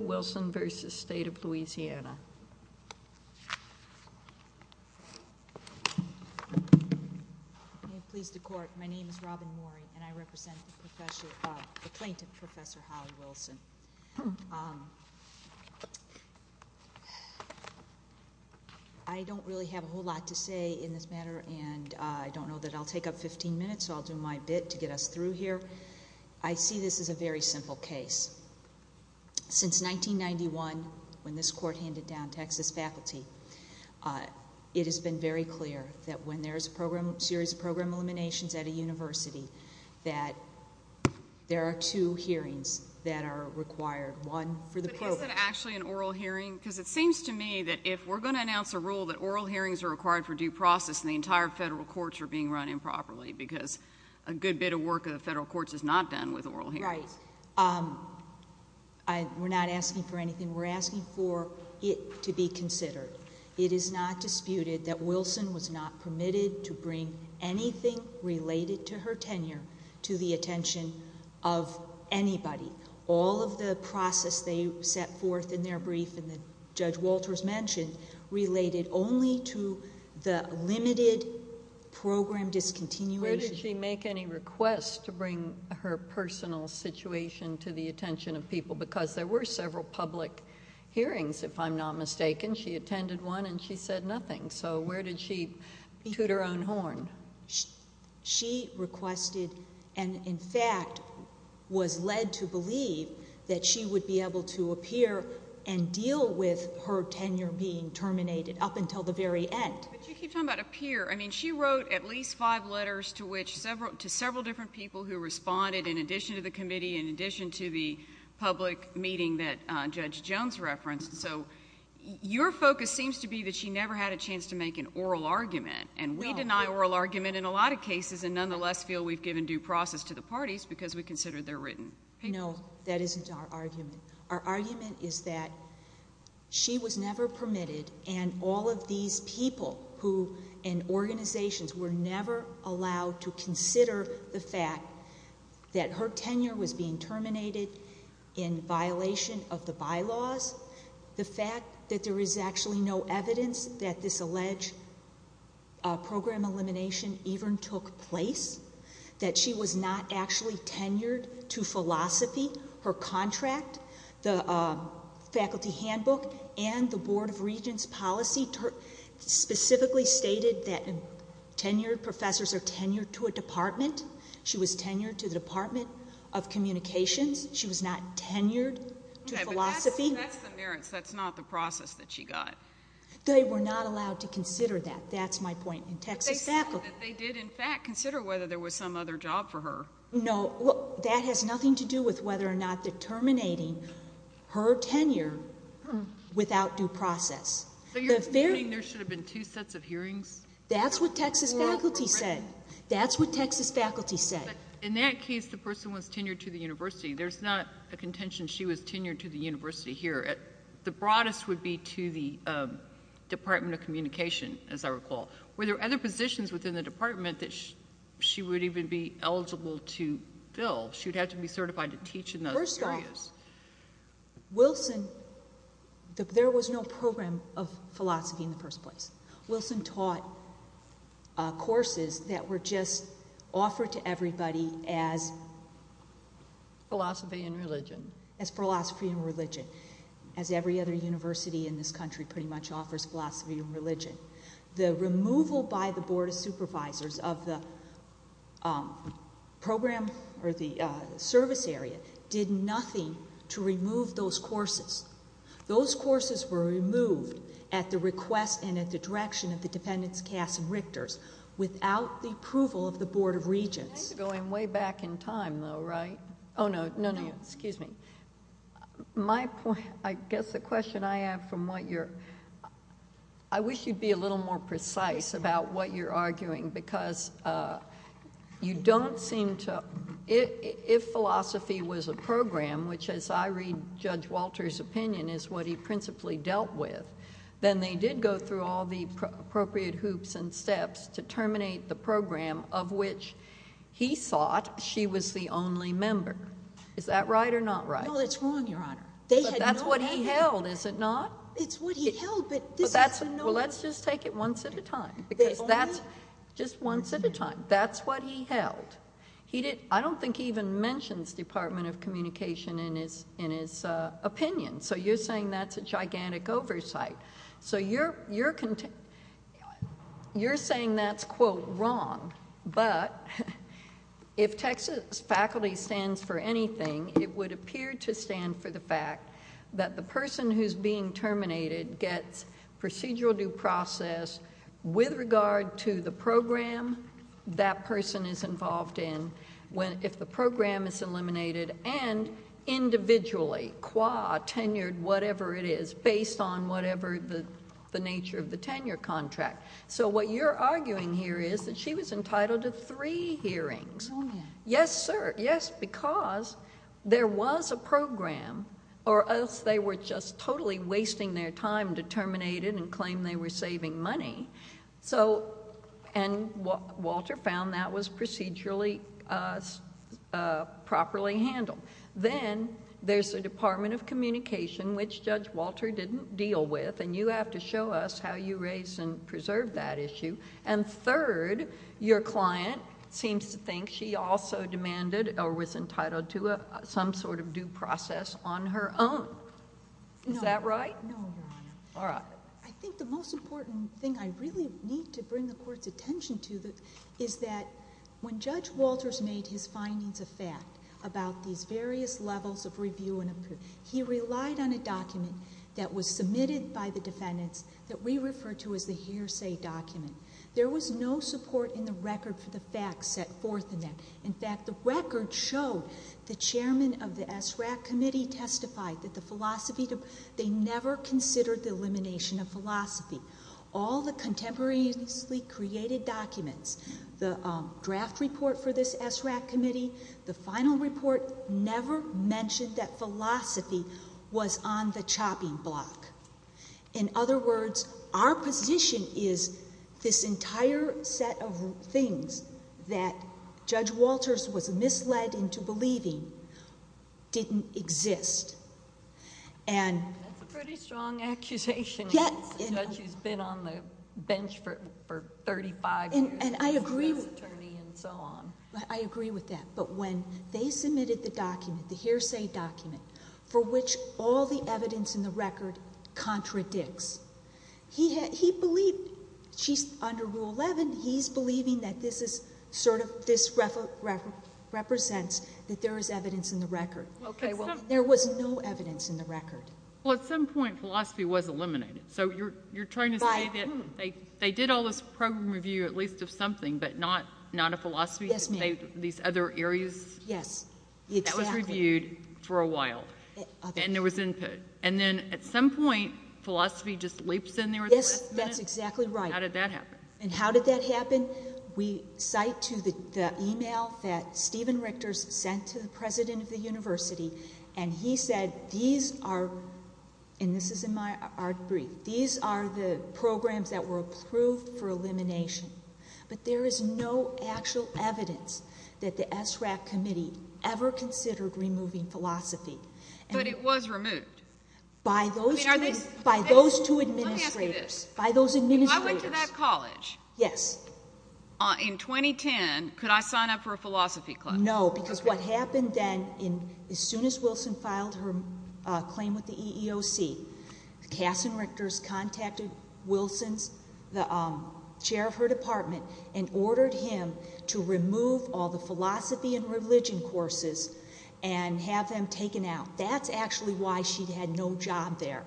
I don't really have a whole lot to say in this matter and I don't know that I'll take up 15 minutes so I'll do my bit to get us through here. I see this as a very simple case. Since 1991 when this court handed down Texas faculty it has been very clear that when there is a series of program eliminations at a university that there are two hearings that are required. One for the program. But isn't it actually an oral hearing because it seems to me that if we're going to announce a rule that oral hearings are required for due process and the entire federal courts are being run improperly because a good bit of work of the federal courts is not done with oral hearings. Right. We're not asking for anything. We're asking for it to be considered. It is not disputed that Wilson was not permitted to bring anything related to her tenure to the attention of anybody. All of the process they set forth in their brief and that Judge Walters mentioned related only to the limited program discontinuation. Where did she make any requests to bring her personal situation to the attention of people because there were several public hearings if I'm not mistaken. She attended one and she said nothing. So where did she toot her own horn? She requested and in fact was led to believe that she would be able to appear and deal with her tenure being terminated up until the very end. But you keep talking about appear. I mean she wrote at least five letters to several different people who responded in addition to the committee, in addition to the public meeting that Judge Jones referenced. So your focus seems to be that she never had a chance to make an oral argument and we deny oral argument in a lot of cases and nonetheless feel we've given due process to the parties because we consider their written papers. No. That isn't our argument. Our argument is that she was never permitted and all of these people who in organizations were never allowed to consider the fact that her tenure was being terminated in violation of the bylaws. The fact that there is actually no evidence that this alleged program elimination even took place, that she was not actually tenured to philosophy, her contract, the faculty handbook and the Board of Regents policy specifically stated that tenured professors are tenured to a department. She was tenured to the Department of Communications. She was not tenured to philosophy. Okay. But that's the merits. That's not the process that she got. They were not allowed to consider that. That's my point. In Texas faculty. But they said that they did in fact consider whether there was some other job for her. No. That has nothing to do with whether or not determining her tenure without due process. So you're saying there should have been two sets of hearings? That's what Texas faculty said. That's what Texas faculty said. In that case, the person was tenured to the university. There's not a contention she was tenured to the university here. The broadest would be to the Department of Communication, as I recall. Were there other positions within the department that she would even be eligible to fill? She'd have to be certified to teach in those areas. Wilson, there was no program of philosophy in the first place. Wilson taught courses that were just offered to everybody as philosophy and religion. As every other university in this country pretty much offers philosophy and religion. The removal by the Board of Supervisors of the program or the service area did nothing to remove those courses. Those courses were removed at the request and at the direction of the dependents, casts, and rectors without the approval of the Board of Regents. I think we're going way back in time though, right? Oh no. No, no. Excuse me. My point, I guess the question I have from what you're... I wish you'd be a little more precise about what you're arguing because you don't seem to... If philosophy was a program, which as I read Judge Walter's opinion is what he principally dealt with, then they did go through all the appropriate hoops and steps to terminate the program of which he thought she was the only member. Is that right or not right? No, that's wrong, Your Honor. They had no idea. But that's what he held, is it not? It's what he held, but this is a no... Well, let's just take it once at a time because that's just once at a time. That's what he held. I don't think he even mentions Department of Communication in his opinion. So you're saying that's a gigantic oversight. So you're saying that's, quote, wrong, but if Texas faculty stands for anything, it would appear to stand for the fact that the person who's being terminated gets procedural due process with regard to the program that person is involved in if the program is eliminated and individually, qua, tenured, whatever it is, based on whatever the nature of the tenure contract. So what you're arguing here is that she was entitled to three hearings. Oh, yeah. Yes, sir. Yes, because there was a program or else they were just totally wasting their time to terminate it and claim they were saving money. So... and Walter found that was procedurally, properly handled. Then there's the Department of Communication, which Judge Walter didn't deal with, and you have to show us how you raise and preserve that issue. And third, your client seems to think she also demanded or was entitled to some sort of due process on her own. No, Your Honor. All right. I think the most important thing I really need to bring the Court's attention to is that when Judge Walters made his findings of fact about these various levels of review and approval, he relied on a document that was submitted by the defendants that we refer to as the hearsay document. There was no support in the record for the facts set forth in that. In fact, the record showed the chairman of the SRAC committee testified that the philosophy... they never considered the elimination of philosophy. All the contemporaneously created documents, the draft report for this SRAC committee, the final report never mentioned that philosophy was on the chopping block. In other words, our position is this entire set of things that Judge Walters was misled into believing didn't exist. That's a pretty strong accusation. Yes. As a judge who's been on the bench for 35 years as an attorney and so on. And I agree with that, but when they submitted the document, the hearsay document, for which all the evidence in the record contradicts, he believed... under Rule 11, he's believing that this represents that there is evidence in the record. There was no evidence in the record. Well, at some point, philosophy was eliminated. So you're trying to say that they did all this program review, at least of something, but not of philosophy? Yes, ma'am. These other areas? Yes, exactly. That was reviewed for a while. And there was input. And then at some point, philosophy just leaps in there at the last minute? Yes, that's exactly right. How did that happen? And how did that happen? We cite to the email that Stephen Richter sent to the president of the university, and he said, these are... and this is in my brief. These are the programs that were approved for elimination, but there is no actual evidence that the SRAP committee ever considered removing philosophy. But it was removed? By those two... I mean, are they... By those two administrators. Let me ask you this. Yes. By those administrators. If I went to that college... Yes.... in 2010, could I sign up for a philosophy class? No, because what happened then, as soon as Wilson filed her claim with the EEOC, Kasson Richter's contacted Wilson's, the chair of her department, and ordered him to remove all the philosophy and religion courses and have them taken out. That's actually why she had no job there,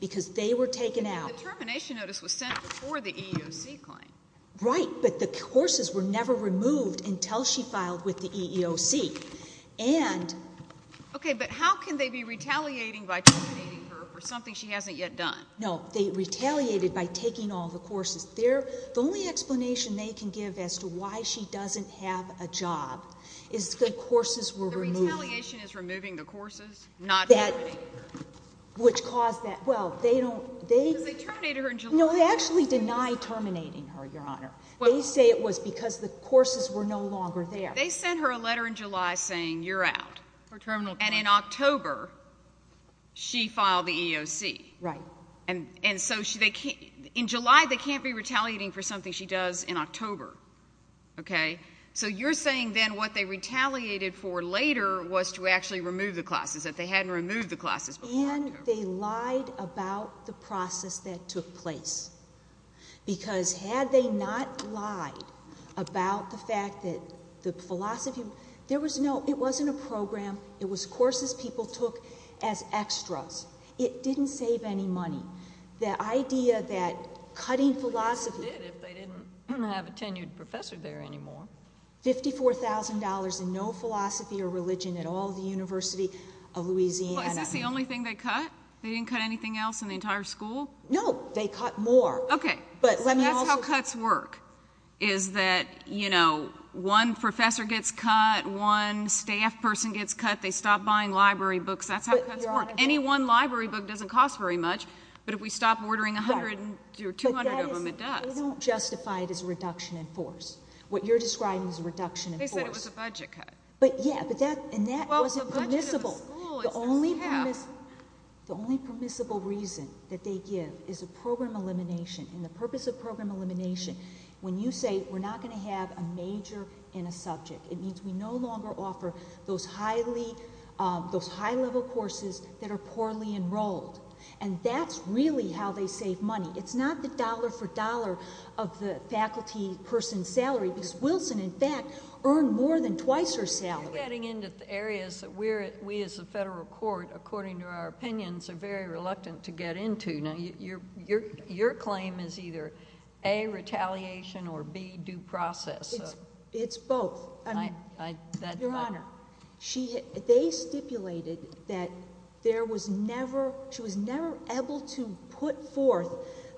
because they were taken out. But the termination notice was sent before the EEOC claim. Right, but the courses were never removed until she filed with the EEOC, and... Okay, but how can they be retaliating by terminating her for something she hasn't yet done? No, they retaliated by taking all the courses. The only explanation they can give as to why she doesn't have a job is the courses were removed. The retaliation is removing the courses, not terminating her. Which caused that... well, they don't... Because they terminated her in July... No, they actually deny terminating her, Your Honor. They say it was because the courses were no longer there. They sent her a letter in July saying, you're out, and in October, she filed the EEOC. Right. And so, in July, they can't be retaliating for something she does in October, okay? So you're saying then what they retaliated for later was to actually remove the classes if they hadn't removed the classes before October. And then they lied about the process that took place. Because had they not lied about the fact that the philosophy... there was no... it wasn't a program. It was courses people took as extras. It didn't save any money. The idea that cutting philosophy... They would have did if they didn't have a tenured professor there anymore. $54,000 and no philosophy or religion at all at the University of Louisiana. Well, is this the only thing they cut? They didn't cut anything else in the entire school? No, they cut more. Okay. But let me also... That's how cuts work, is that, you know, one professor gets cut, one staff person gets cut, they stop buying library books. That's how cuts work. Any one library book doesn't cost very much, but if we stop ordering 100 or 200 of them, it does. But that is... they don't justify it as a reduction in force. What you're describing is a reduction in force. They said it was a budget cut. But, yeah, but that... and that wasn't permissible. Well, the budget of the school... The only permissible reason that they give is a program elimination, and the purpose of program elimination, when you say we're not going to have a major in a subject, it means we no longer offer those high-level courses that are poorly enrolled. And that's really how they save money. It's not the dollar-for-dollar of the faculty person's salary, because Wilson, in fact, earned more than twice her salary. You're getting into areas that we as a federal court, according to our opinions, are very reluctant to get into. Now, your claim is either, A, retaliation, or, B, due process. It's both. Your Honor, they stipulated that there was never... she was never able to put forth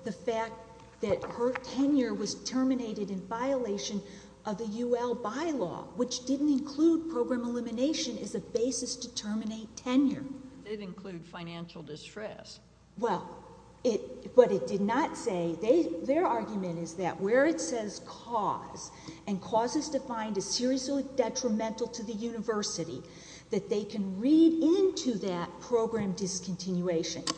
the fact that her tenure was terminated in violation of the U.L. bylaw, which didn't include program elimination as a basis to terminate tenure. It did include financial distress. Well, but it did not say... their argument is that where it says cause, and cause is defined as seriously detrimental to the university, that they can read into that program discontinuation.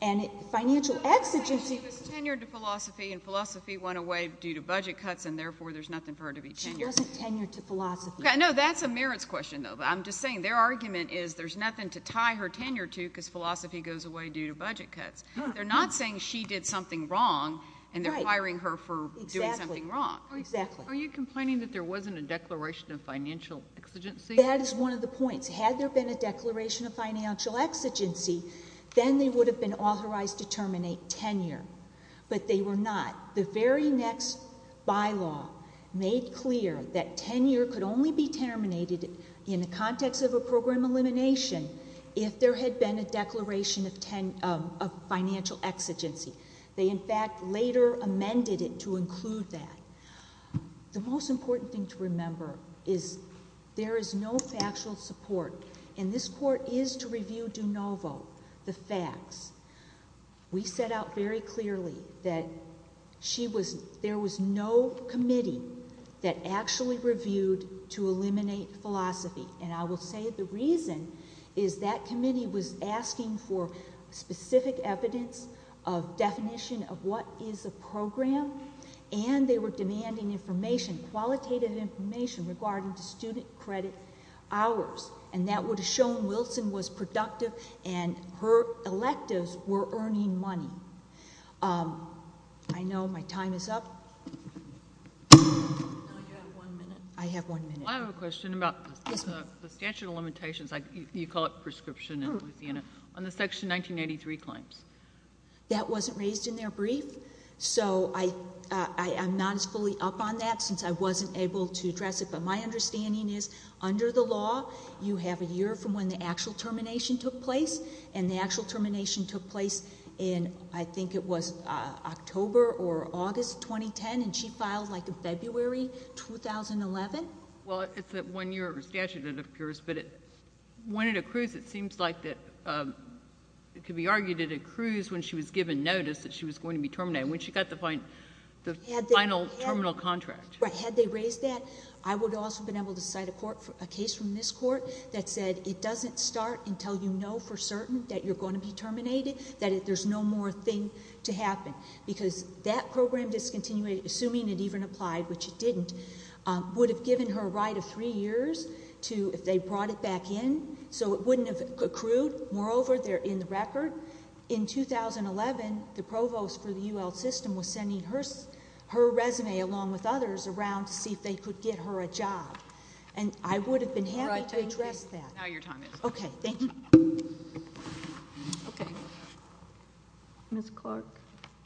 And financial exigency... She was tenured to philosophy, and philosophy went away due to budget cuts, and therefore there's nothing for her to be tenured to. She wasn't tenured to philosophy. Okay. No, that's a merits question, though. I'm just saying, their argument is there's nothing to tie her tenure to because philosophy goes away due to budget cuts. They're not saying she did something wrong, and they're hiring her for doing something wrong. Exactly. Exactly. Are you complaining that there wasn't a declaration of financial exigency? That is one of the points. Had there been a declaration of financial exigency, then they would have been authorized to terminate tenure, but they were not. The very next bylaw made clear that tenure could only be terminated in the context of a program elimination if there had been a declaration of financial exigency. They, in fact, later amended it to include that. The most important thing to remember is there is no factual support, and this Court is to review de novo the facts. We set out very clearly that there was no committee that actually reviewed to eliminate philosophy. I will say the reason is that committee was asking for specific evidence of definition of what is a program, and they were demanding information, qualitative information, regarding the student credit hours. That would have shown Wilson was productive and her electives were earning money. I know my time is up. No, you have one minute. I have one minute. I have a question about the statute of limitations, you call it prescription in Louisiana, on the Section 1983 claims. That wasn't raised in their brief, so I'm not as fully up on that since I wasn't able to address it. My understanding is under the law, you have a year from when the actual termination took place, and the actual termination took place in, I think it was October or August 2010, and she filed like in February 2011? Well, it's a one-year statute, it appears, but when it accrues, it seems like that it could be argued it accrues when she was given notice that she was going to be terminated, when she got the final terminal contract. Had they raised that, I would also have been able to cite a case from this court that said it doesn't start until you know for certain that you're going to be terminated, that there's no more thing to happen, because that program discontinuity, assuming it even applied, which it didn't, would have given her a right of three years to, if they brought it back in, so it wouldn't have accrued, moreover, they're in the record. However, in 2011, the provost for the UL system was sending her resume along with others around to see if they could get her a job, and I would have been happy to address that. All right, thank you. Now your time is up. Okay, thank you. Okay. Ms. Clark?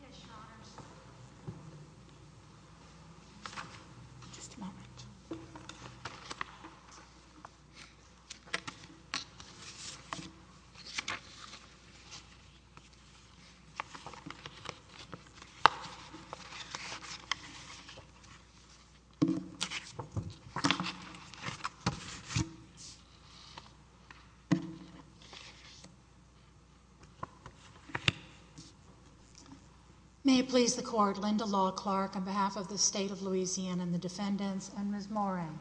Yes, Your Honors. Just a moment. May it please the court, Linda Law Clark on behalf of the State of Louisiana and the defendants and Ms. Moran.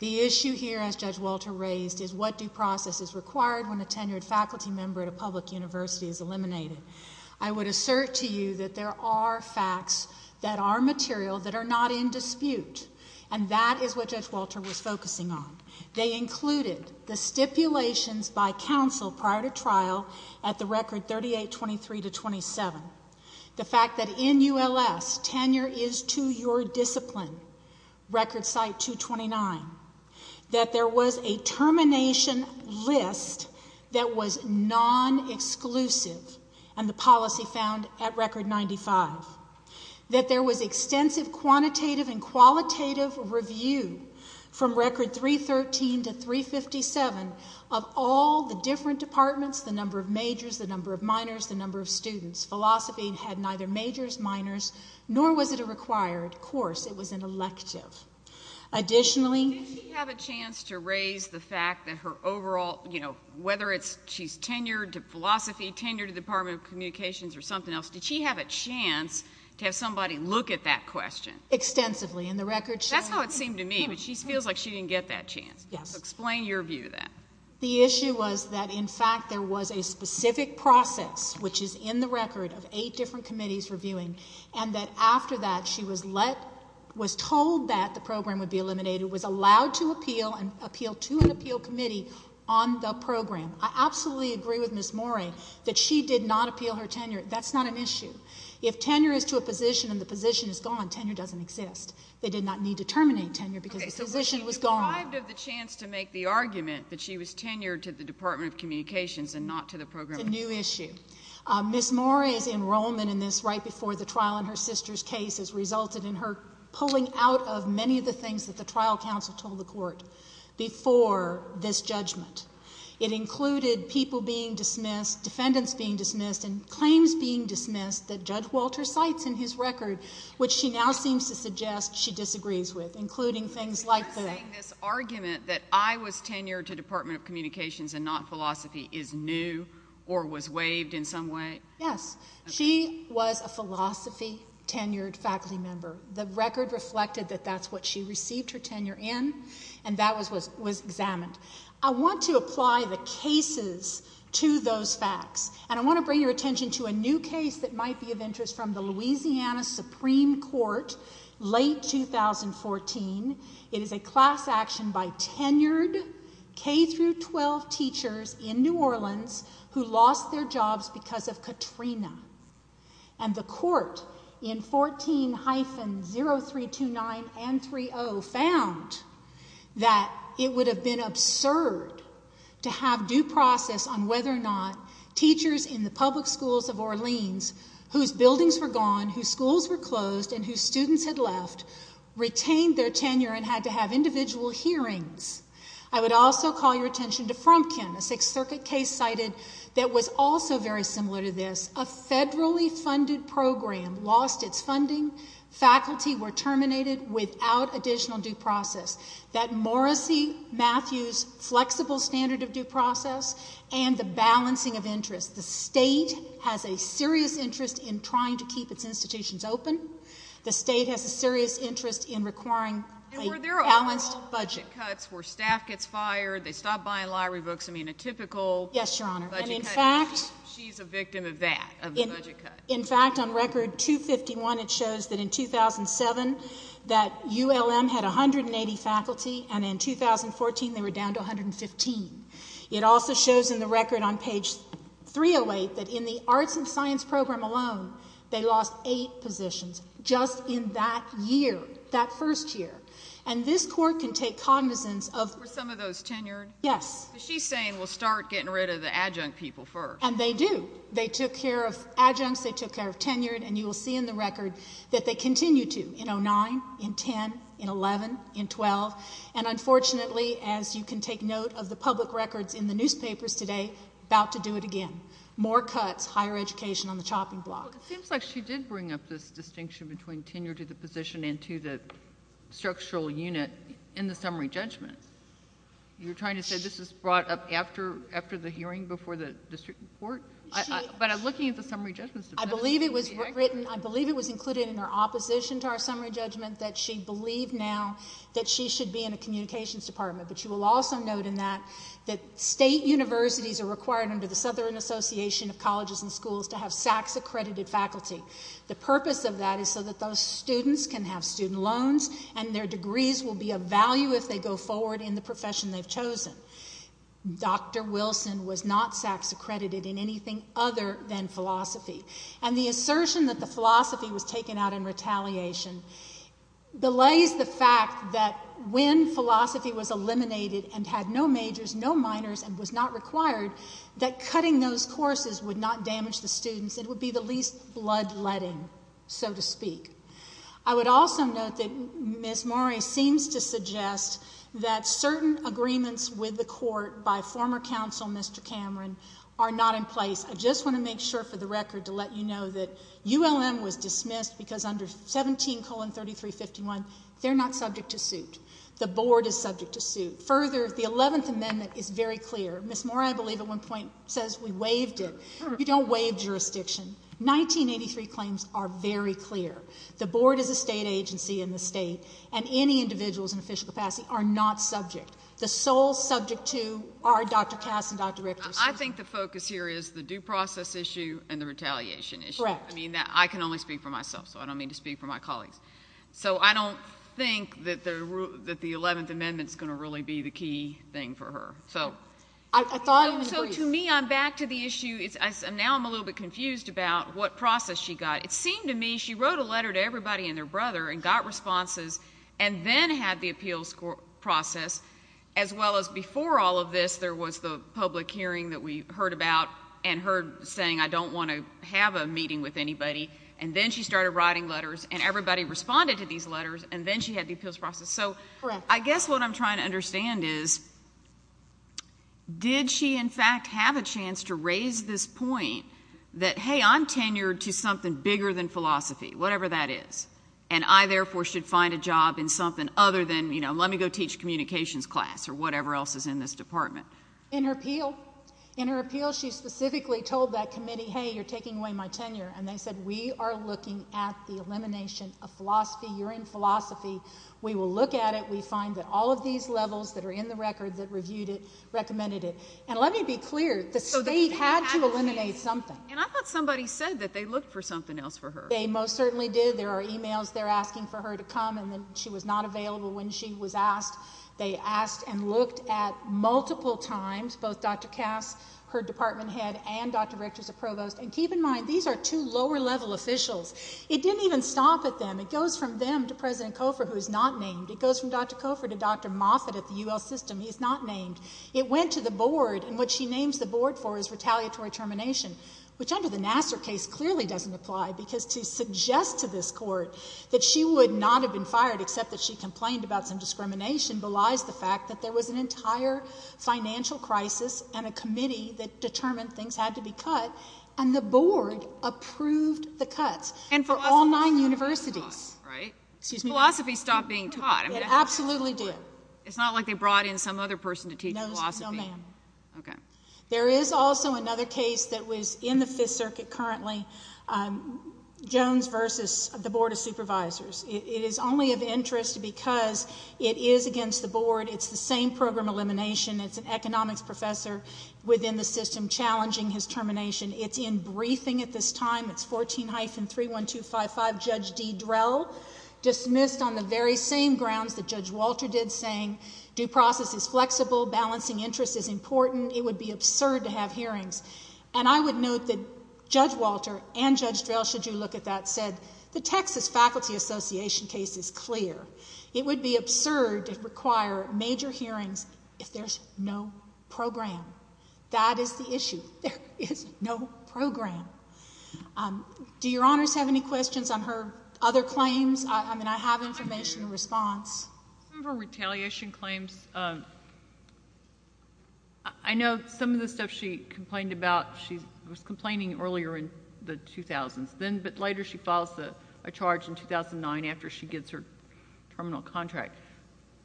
The issue here, as Judge Walter raised, is what due process is required when a tenured faculty member at a public university is eliminated. I would assert to you that there are facts that are material that are not in dispute, and that is what Judge Walter was focusing on. They included the stipulations by counsel prior to trial at the record 3823 to 27. The fact that in ULS, tenure is to your discipline, record site 229. That there was a termination list that was non-exclusive, and the policy found at record 95. That there was extensive quantitative and qualitative review from record 313 to 357 of all the different departments, the number of majors, the number of minors, the number of students. Philosophy had neither majors, minors, nor was it a required course. It was an elective. Additionally... Did she have a chance to raise the fact that her overall, you know, whether it's she's tenured to philosophy, tenured to Department of Communications or something else, did she have a chance to have somebody look at that question? Extensively. In the record... That's how it seemed to me, but she feels like she didn't get that chance. Yes. Explain your view of that. The issue was that, in fact, there was a specific process, which is in the record of eight different committees reviewing, and that after that, she was let, was told that the program would be eliminated, was allowed to appeal and appeal to an appeal committee on the program. I absolutely agree with Ms. Morey that she did not appeal her tenure. That's not an issue. If tenure is to a position and the position is gone, tenure doesn't exist. They did not need to terminate tenure because the position was gone. She was deprived of the chance to make the argument that she was tenured to the Department of Communications and not to the program. It's a new issue. Ms. Morey's enrollment in this right before the trial in her sister's case has resulted in her pulling out of many of the things that the trial counsel told the court before this judgment. It included people being dismissed, defendants being dismissed, and claims being dismissed that Judge Walter cites in his record, which she now seems to suggest she disagrees with, including things like the... Are you saying this argument that I was tenured to Department of Communications and not philosophy is new or was waived in some way? Yes. She was a philosophy-tenured faculty member. The record reflected that that's what she received her tenure in and that was examined. I want to apply the cases to those facts and I want to bring your attention to a new case that might be of interest from the Louisiana Supreme Court late 2014. It is a class action by tenured K-12 teachers in New Orleans who lost their jobs because of Katrina. And the court in 14-0329 and 30 found that it would have been absurd to have due process on whether or not teachers in the public schools of Orleans whose buildings were gone, whose teachers lost their tenure and had to have individual hearings. I would also call your attention to Frumpkin, a Sixth Circuit case cited that was also very similar to this, a federally funded program lost its funding, faculty were terminated without additional due process. That Morrissey-Matthews flexible standard of due process and the balancing of interest. The state has a serious interest in trying to keep its institutions open. The state has a serious interest in requiring a balanced budget. Were there all budget cuts where staff gets fired, they stop buying library books, I mean a typical budget cut? Yes, Your Honor. And in fact... She's a victim of that, of the budget cut. In fact, on record 251, it shows that in 2007 that ULM had 180 faculty and in 2014 they were down to 115. It also shows in the record on page 308 that in the arts and science program alone they lost eight positions just in that year, that first year. And this court can take cognizance of... Were some of those tenured? Yes. But she's saying we'll start getting rid of the adjunct people first. And they do. They took care of adjuncts, they took care of tenured and you will see in the record that they continue to in 09, in 10, in 11, in 12 and unfortunately as you can take note of the public records in the newspapers today, about to do it again. More cuts, higher education on the chopping block. Well, it seems like she did bring up this distinction between tenure to the position and to the structural unit in the summary judgment. You're trying to say this was brought up after the hearing, before the district report? But I'm looking at the summary judgment... I believe it was written, I believe it was included in her opposition to our summary judgment that she believed now that she should be in a communications department. But you will also note in that, that state universities are required under the Southern Association of Colleges and Schools to have SACs accredited faculty. The purpose of that is so that those students can have student loans and their degrees will be of value if they go forward in the profession they've chosen. Dr. Wilson was not SACs accredited in anything other than philosophy. And the assertion that the philosophy was taken out in retaliation belays the fact that when philosophy was eliminated and had no majors, no minors and was not required, that those courses would not damage the students, it would be the least blood-letting, so to speak. I would also note that Ms. Morey seems to suggest that certain agreements with the court by former counsel, Mr. Cameron, are not in place. I just want to make sure for the record to let you know that ULM was dismissed because under 17 colon 3351, they're not subject to suit. The board is subject to suit. Further, the 11th amendment is very clear. Ms. Morey, I believe at one point, says we waived it. You don't waive jurisdiction. 1983 claims are very clear. The board is a state agency in the state and any individuals in official capacity are not subject. The sole subject to are Dr. Cass and Dr. Richter. I think the focus here is the due process issue and the retaliation issue. Correct. I mean, I can only speak for myself, so I don't mean to speak for my colleagues. So I don't think that the 11th amendment is going to really be the key thing for her. So to me, I'm back to the issue, now I'm a little bit confused about what process she got. It seemed to me she wrote a letter to everybody and their brother and got responses and then had the appeals process as well as before all of this, there was the public hearing that we heard about and heard saying, I don't want to have a meeting with anybody. And then she started writing letters and everybody responded to these letters and then she had the appeals process. Correct. I guess what I'm trying to understand is, did she in fact have a chance to raise this point that, hey, I'm tenured to something bigger than philosophy, whatever that is. And I therefore should find a job in something other than, you know, let me go teach communications class or whatever else is in this department. In her appeal, in her appeal, she specifically told that committee, hey, you're taking away my tenure. And they said, we are looking at the elimination of philosophy. You're in philosophy. We will look at it. We find that all of these levels that are in the record that reviewed it, recommended it. And let me be clear, the state had to eliminate something. And I thought somebody said that they looked for something else for her. They most certainly did. There are emails they're asking for her to come and then she was not available when she was asked. They asked and looked at multiple times, both Dr. Cass, her department head and Dr. Richter's a provost. And keep in mind, these are two lower level officials. It didn't even stop at them. It goes from them to President Cofer, who is not named. It goes from Dr. Cofer to Dr. Moffitt at the U.L. system. He's not named. It went to the board. And what she names the board for is retaliatory termination, which under the Nassar case clearly doesn't apply because to suggest to this court that she would not have been fired except that she complained about some discrimination belies the fact that there was an entire financial crisis and a committee that determined things had to be cut. And the board approved the cuts. And for all nine universities, right? It absolutely did. It's not like they brought in some other person to teach philosophy. No, ma'am. Okay. There is also another case that was in the Fifth Circuit currently, Jones versus the Board of Supervisors. It is only of interest because it is against the board. It's the same program elimination. It's an economics professor within the system challenging his termination. It's in briefing at this time. It's 14-31255, Judge D. Drell, dismissed on the very same grounds that Judge Walter did saying due process is flexible, balancing interest is important. It would be absurd to have hearings. And I would note that Judge Walter and Judge Drell, should you look at that, said the Texas Faculty Association case is clear. It would be absurd to require major hearings if there's no program. That is the issue. There is no program. Do Your Honors have any questions on her other claims? I mean, I have information in response. Some of her retaliation claims, I know some of the stuff she complained about, she was complaining earlier in the 2000s, but later she files a charge in 2009 after she gets her terminal contract.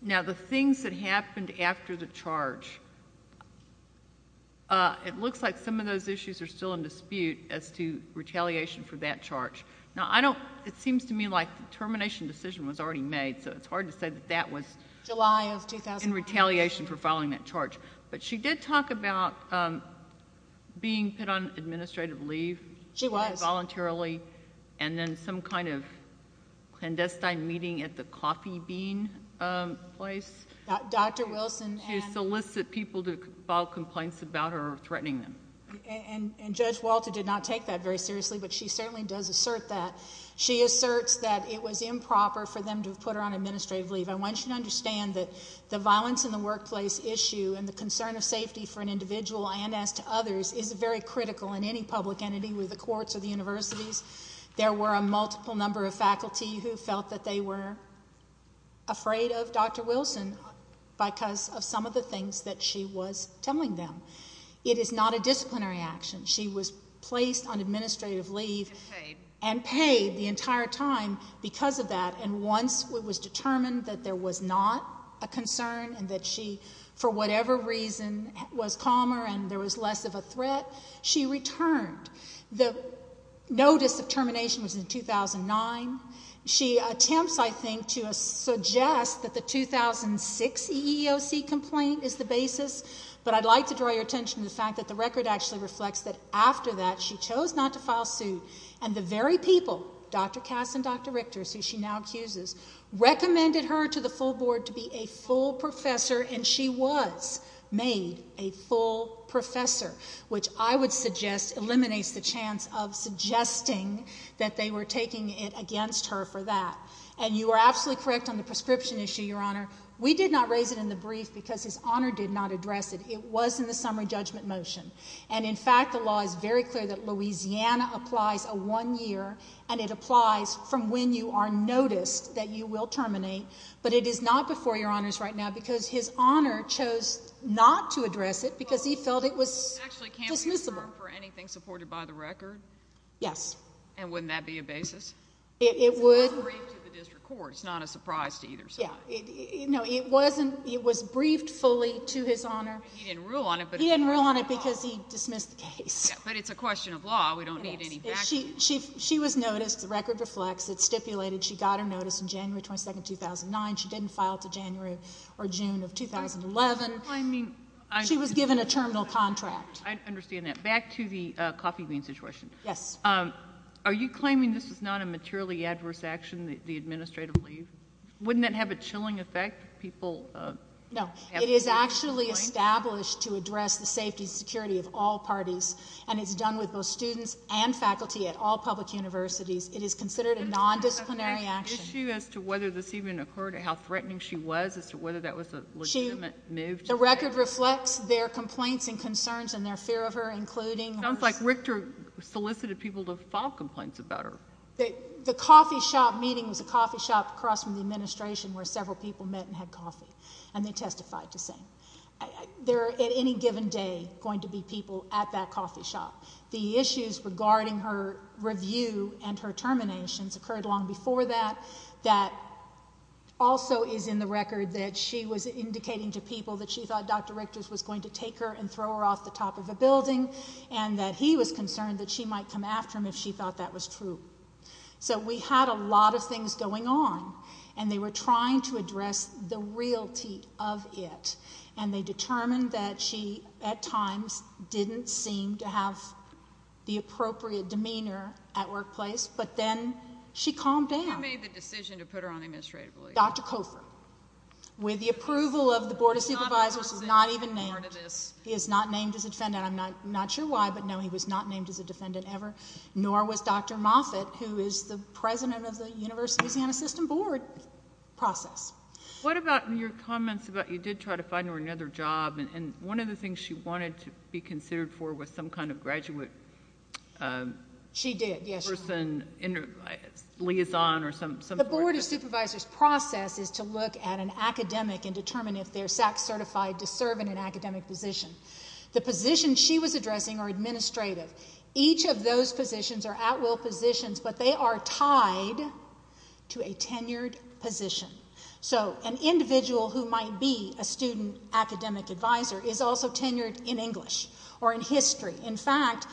Now, the things that happened after the charge, it looks like some of those issues are still in dispute as to retaliation for that charge. Now, I don't, it seems to me like the termination decision was already made, so it's hard to say that that was in retaliation for filing that charge. But she did talk about being put on administrative leave. She was. Voluntarily. And then some kind of clandestine meeting at the coffee bean place. Dr. Wilson and... She solicited people to file complaints about her threatening them. And Judge Walter did not take that very seriously, but she certainly does assert that. She asserts that it was improper for them to have put her on administrative leave. I want you to understand that the violence in the workplace issue and the concern of safety for an individual and as to others is very critical in any public entity, whether the courts or the universities. There were a multiple number of faculty who felt that they were afraid of Dr. Wilson because of some of the things that she was telling them. It is not a disciplinary action. She was placed on administrative leave and paid the entire time because of that. And once it was determined that there was not a concern and that she, for whatever reason, was calmer and there was less of a threat, she returned. The notice of termination was in 2009. She attempts, I think, to suggest that the 2006 EEOC complaint is the basis, but I'd like to draw your attention to the fact that the record actually reflects that after that she chose not to file suit and the very people, Dr. Cass and Dr. Richter, who she now accuses, recommended her to the full board to be a full professor and she was made a full professor, which I would suggest eliminates the chance of suggesting that they were taking it against her for that. And you are absolutely correct on the prescription issue, Your Honor. We did not raise it in the brief because His Honor did not address it. It was in the summary judgment motion. And in fact, the law is very clear that Louisiana applies a one-year and it applies from when you are noticed that you will terminate, but it is not before Your Honors right now because His Honor chose not to address it because he felt it was dismissible. Actually, can't we refer for anything supported by the record? Yes. And wouldn't that be a basis? It would. It was briefed to the district court. It's not a surprise to either side. Yeah. No, it wasn't. It was briefed fully to His Honor. He didn't rule on it. He didn't rule on it because he dismissed the case. But it's a question of law. We don't need any backing. She was noticed. The record reflects. It stipulated she got her notice in January 22, 2009. She didn't file to January or June of 2011. She was given a terminal contract. I understand that. Back to the coffee bean situation. Yes. Are you claiming this is not a materially adverse action, the administrative leave? Wouldn't that have a chilling effect if people have to leave? No. It is actually established to address the safety and security of all parties. And it's done with both students and faculty at all public universities. It is considered a nondisciplinary action. Is there an issue as to whether this even occurred, how threatening she was, as to whether that was a legitimate move to her? The record reflects their complaints and concerns and their fear of her, including her... It sounds like Richter solicited people to file complaints about her. The coffee shop meeting was a coffee shop across from the administration where several people met and had coffee, and they testified the same. There are, at any given day, going to be people at that coffee shop. The issues regarding her review and her terminations occurred long before that. That also is in the record that she was indicating to people that she thought Dr. Richter's was going to take her and throw her off the top of a building, and that he was concerned that she might come after him if she thought that was true. So we had a lot of things going on, and they were trying to address the realty of it. And they determined that she, at times, didn't seem to have the appropriate demeanor at workplace, but then she calmed down. Who made the decision to put her on administrative leave? Dr. Cofer. With the approval of the Board of Supervisors, not even named. He is not named as a defendant. I'm not sure why, but no, he was not named as a defendant ever, nor was Dr. Moffitt, who is the president of the University of Louisiana System Board process. What about your comments about you did try to find her another job, and one of the things she wanted to be considered for was some kind of graduate person, liaison, or something like that? The Board of Supervisors process is to look at an academic and determine if they're SAC certified to serve in an academic position. The positions she was addressing are administrative. Each of those positions are at-will positions, but they are tied to a tenured position. So an individual who might be a student academic advisor is also tenured in English or in history. In fact,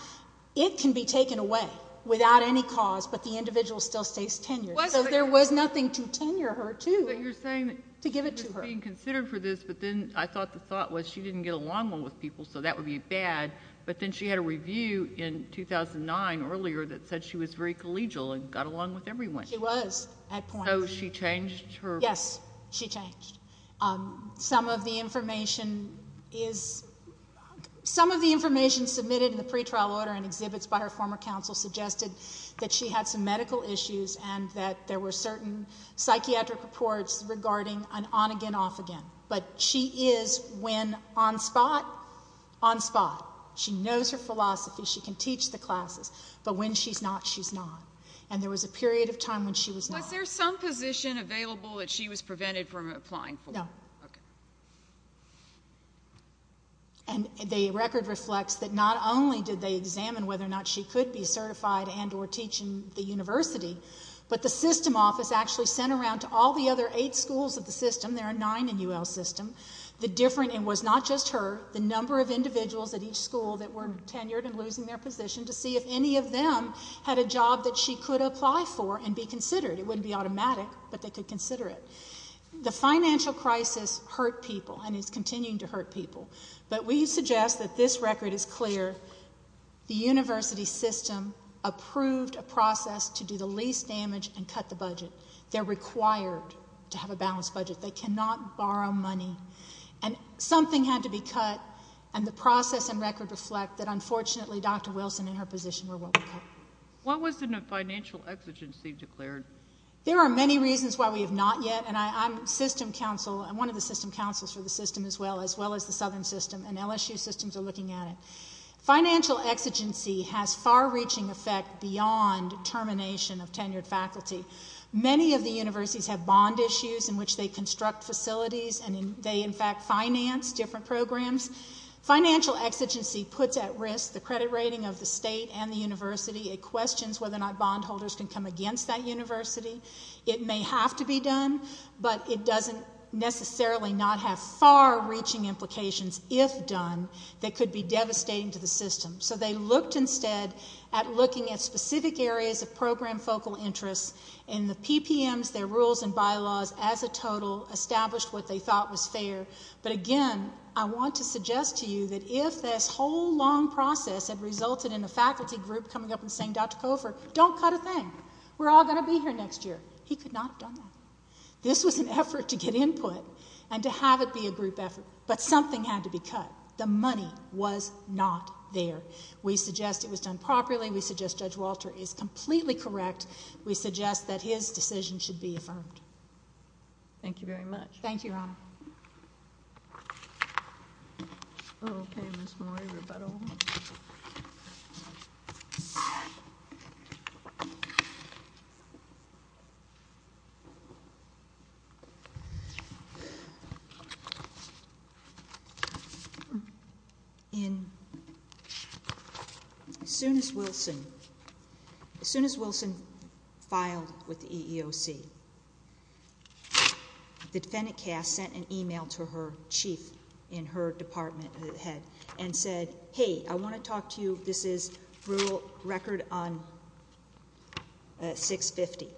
it can be taken away without any cause, but the individual still stays tenured. So there was nothing to tenure her to, to give it to her. So you're saying that she was being considered for this, but then I thought the thought was she didn't get along well with people, so that would be bad, but then she had a review in 2009 earlier that said she was very collegial and got along with everyone. She was, at points. So she changed her... Yes, she changed. Some of the information is, some of the information submitted in the pretrial order and exhibits by her former counsel suggested that she had some medical issues and that there were certain psychiatric reports regarding an on-again, off-again. But she is, when on-spot, on-spot. She knows her philosophy. She can teach the classes, but when she's not, she's not. And there was a period of time when she was not. Was there some position available that she was prevented from applying for? No. Okay. And the record reflects that not only did they examine whether or not she could be certified and or teach in the university, but the system office actually sent around to all the other eight schools of the system, there are nine in UL's system, the different, it was not just her, the number of individuals at each school that were tenured and losing their position to see if any of them had a job that she could apply for and be considered. It wouldn't be automatic, but they could consider it. The financial crisis hurt people and is continuing to hurt people, but we suggest that this record is clear. The university system approved a process to do the least damage and cut the budget. They're required to have a balanced budget. They cannot borrow money and something had to be cut and the process and record reflect that unfortunately Dr. Wilson and her position were what we cut. What was the financial exigency declared? There are many reasons why we have not yet and I'm system counsel, I'm one of the system counsels for the system as well, as well as the southern system and LSU systems are looking at it. Financial exigency has far-reaching effect beyond termination of tenured faculty. Many of the universities have bond issues in which they construct facilities and they in fact finance different programs. Financial exigency puts at risk the credit rating of the state and the university. It questions whether or not bond holders can come against that university. It may have to be done, but it doesn't necessarily not have far-reaching implications if done that could be devastating to the system. So they looked instead at looking at specific areas of program focal interest and the PPMs, their rules and bylaws as a total established what they thought was fair, but again I want to suggest to you that if this whole long process had resulted in a faculty group coming up and saying Dr. Cofer, don't cut a thing, we're all going to be here next year. He could not have done that. This was an effort to get input and to have it be a group effort, but something had to be cut. The money was not there. We suggest it was done properly. We suggest Judge Walter is completely correct. We suggest that his decision should be affirmed. Thank you very much. Thank you, Your Honor. Okay, Ms. Moore. As soon as Wilson filed with the EEOC, the defendant cast sent an email to her chief in her department head and said, hey, I want to talk to you. This is rural record on 650.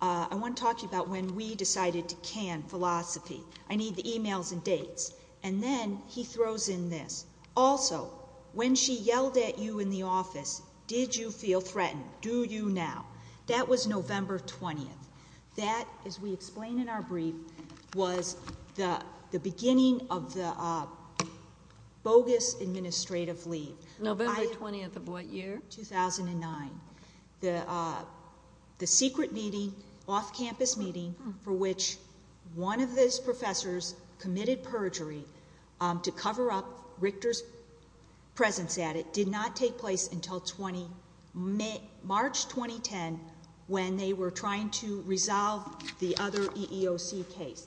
I want to talk to you about when we decided to can philosophy. I need the emails and dates. And then he throws in this, also, when she yelled at you in the office, did you feel threatened? Do you now? That was November 20th. That, as we explained in our brief, was the beginning of the bogus administrative leave. November 20th of what year? 2009. The secret meeting, off-campus meeting, for which one of those professors committed perjury to cover up Richter's presence at it did not take place until March 2010 when they were trying to resolve the other EEOC case.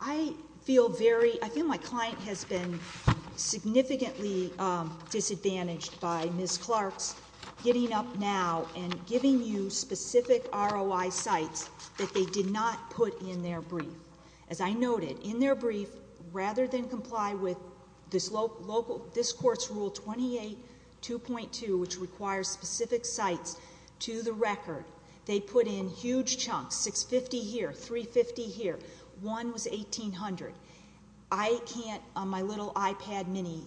I feel very... I feel my client has been significantly disadvantaged by Ms. Clark's getting up now and giving you specific ROI sites that they did not put in their brief. As I noted, in their brief, rather than comply with this court's Rule 28.2.2, which requires specific sites to the record, they put in huge chunks, 650 here, 350 here. One was 1800. I can't, on my little iPad mini,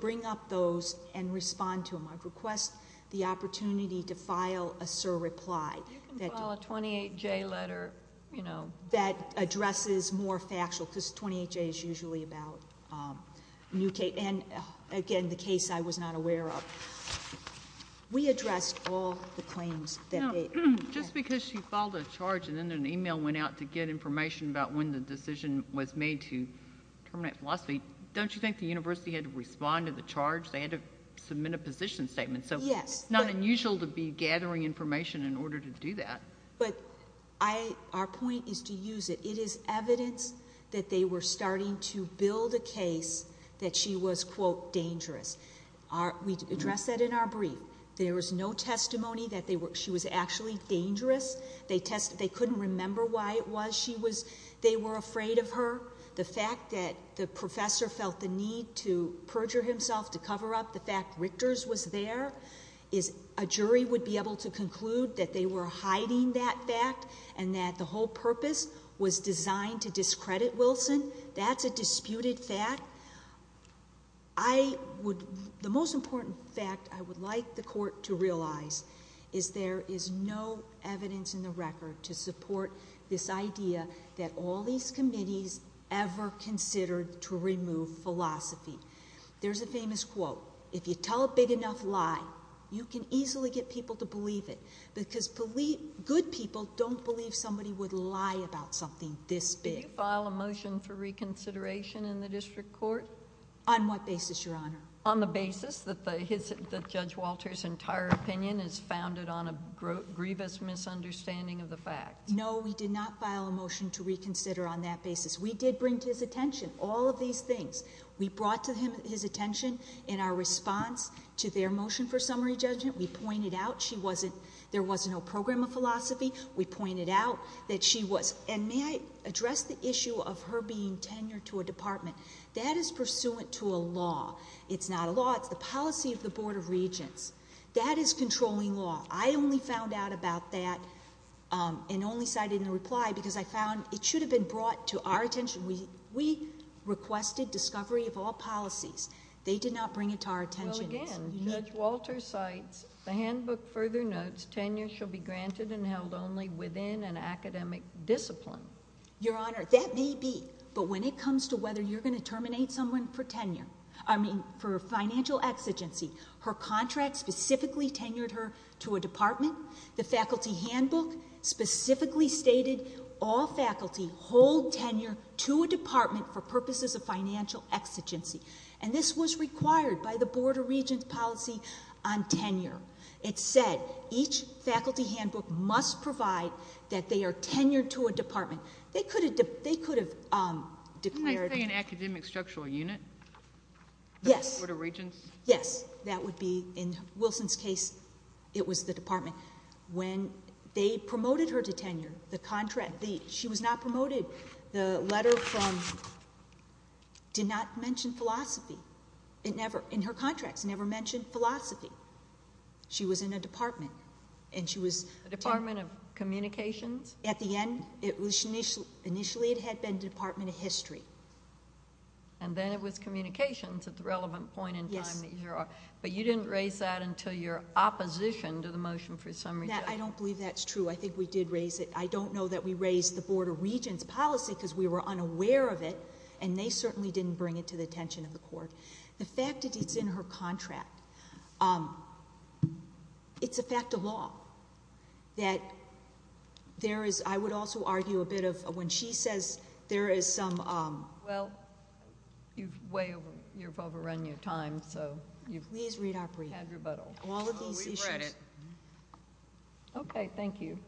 bring up those and respond to them. I'd request the opportunity to file a surreply... You can file a 28-J letter, you know.... that addresses more factual, because 28-J is usually about new... and, again, the case I was not aware of. We addressed all the claims that they... Now, just because she filed a charge and then an email went out to get information about when the decision was made to terminate philosophy, don't you think the university had to respond to the charge? They had to submit a position statement, so it's not unusual to be gathering information in order to do that. Our point is to use it. It is evidence that they were starting to build a case that she was, quote, dangerous. We addressed that in our brief. There was no testimony that she was actually dangerous. They couldn't remember why it was she was... they were afraid of her. The fact that the professor felt the need to perjure himself to cover up the fact Richter's was there, is... a jury would be able to conclude that they were hiding that fact and that the whole purpose was designed to discredit Wilson. That's a disputed fact. I would... the most important fact I would like the Court to realize is there is no evidence in the record to support this idea that all these committees ever considered to remove philosophy. There's a famous quote, if you tell a big enough lie, you can easily get people to believe it, because good people don't believe somebody would lie about something this big. Can you file a motion for reconsideration in the district court? On what basis, Your Honor? On the basis that Judge Walter's entire opinion is founded on a grievous misunderstanding of the fact. No, we did not file a motion to reconsider on that basis. We did bring to his attention all of these things. We brought to his attention in our response to their motion for summary judgment, we pointed out she wasn't... there was no program of philosophy. We pointed out that she was... and may I address the issue of her being tenured to a department. That is pursuant to a law. It's not a law. It's the policy of the Board of Regents. That is controlling law. I only found out about that and only cited in a reply because I found it should have been brought to our attention. We requested discovery of all policies. They did not bring it to our attention. Well, again, Judge Walter cites the handbook further notes, tenure shall be granted and held only within an academic discipline. Your Honor, that may be, but when it comes to whether you're going to terminate someone for tenure, I mean for financial exigency, her contract specifically tenured her to a department. The faculty handbook specifically stated all faculty hold tenure to a department for purposes of financial exigency. And this was required by the Board of Regents policy on tenure. It said each faculty handbook must provide that they are tenured to a department. They could have declared- Didn't they say an academic structural unit? Yes. The Board of Regents? Yes. That would be, in Wilson's case, it was the department. When they promoted her to tenure, the contract, she was not promoted. The letter from, did not mention philosophy. It never, in her contracts, never mentioned philosophy. She was in a department, and she was- A department of communications? At the end, initially it had been department of history. And then it was communications at the relevant point in time that you're on, but you didn't raise that until your opposition to the motion for a summary judgment. I don't believe that's true. I think we did raise it. I don't know that we raised the Board of Regents policy because we were unaware of it, and they certainly didn't bring it to the attention of the court. The fact that it's in her contract, it's a fact of law that there is, I would also argue a bit of, when she says there is some- Well, you've way over, you've overrun your time, so you've- Please read our brief. Had rebuttal. All of these issues- We've read it. Okay.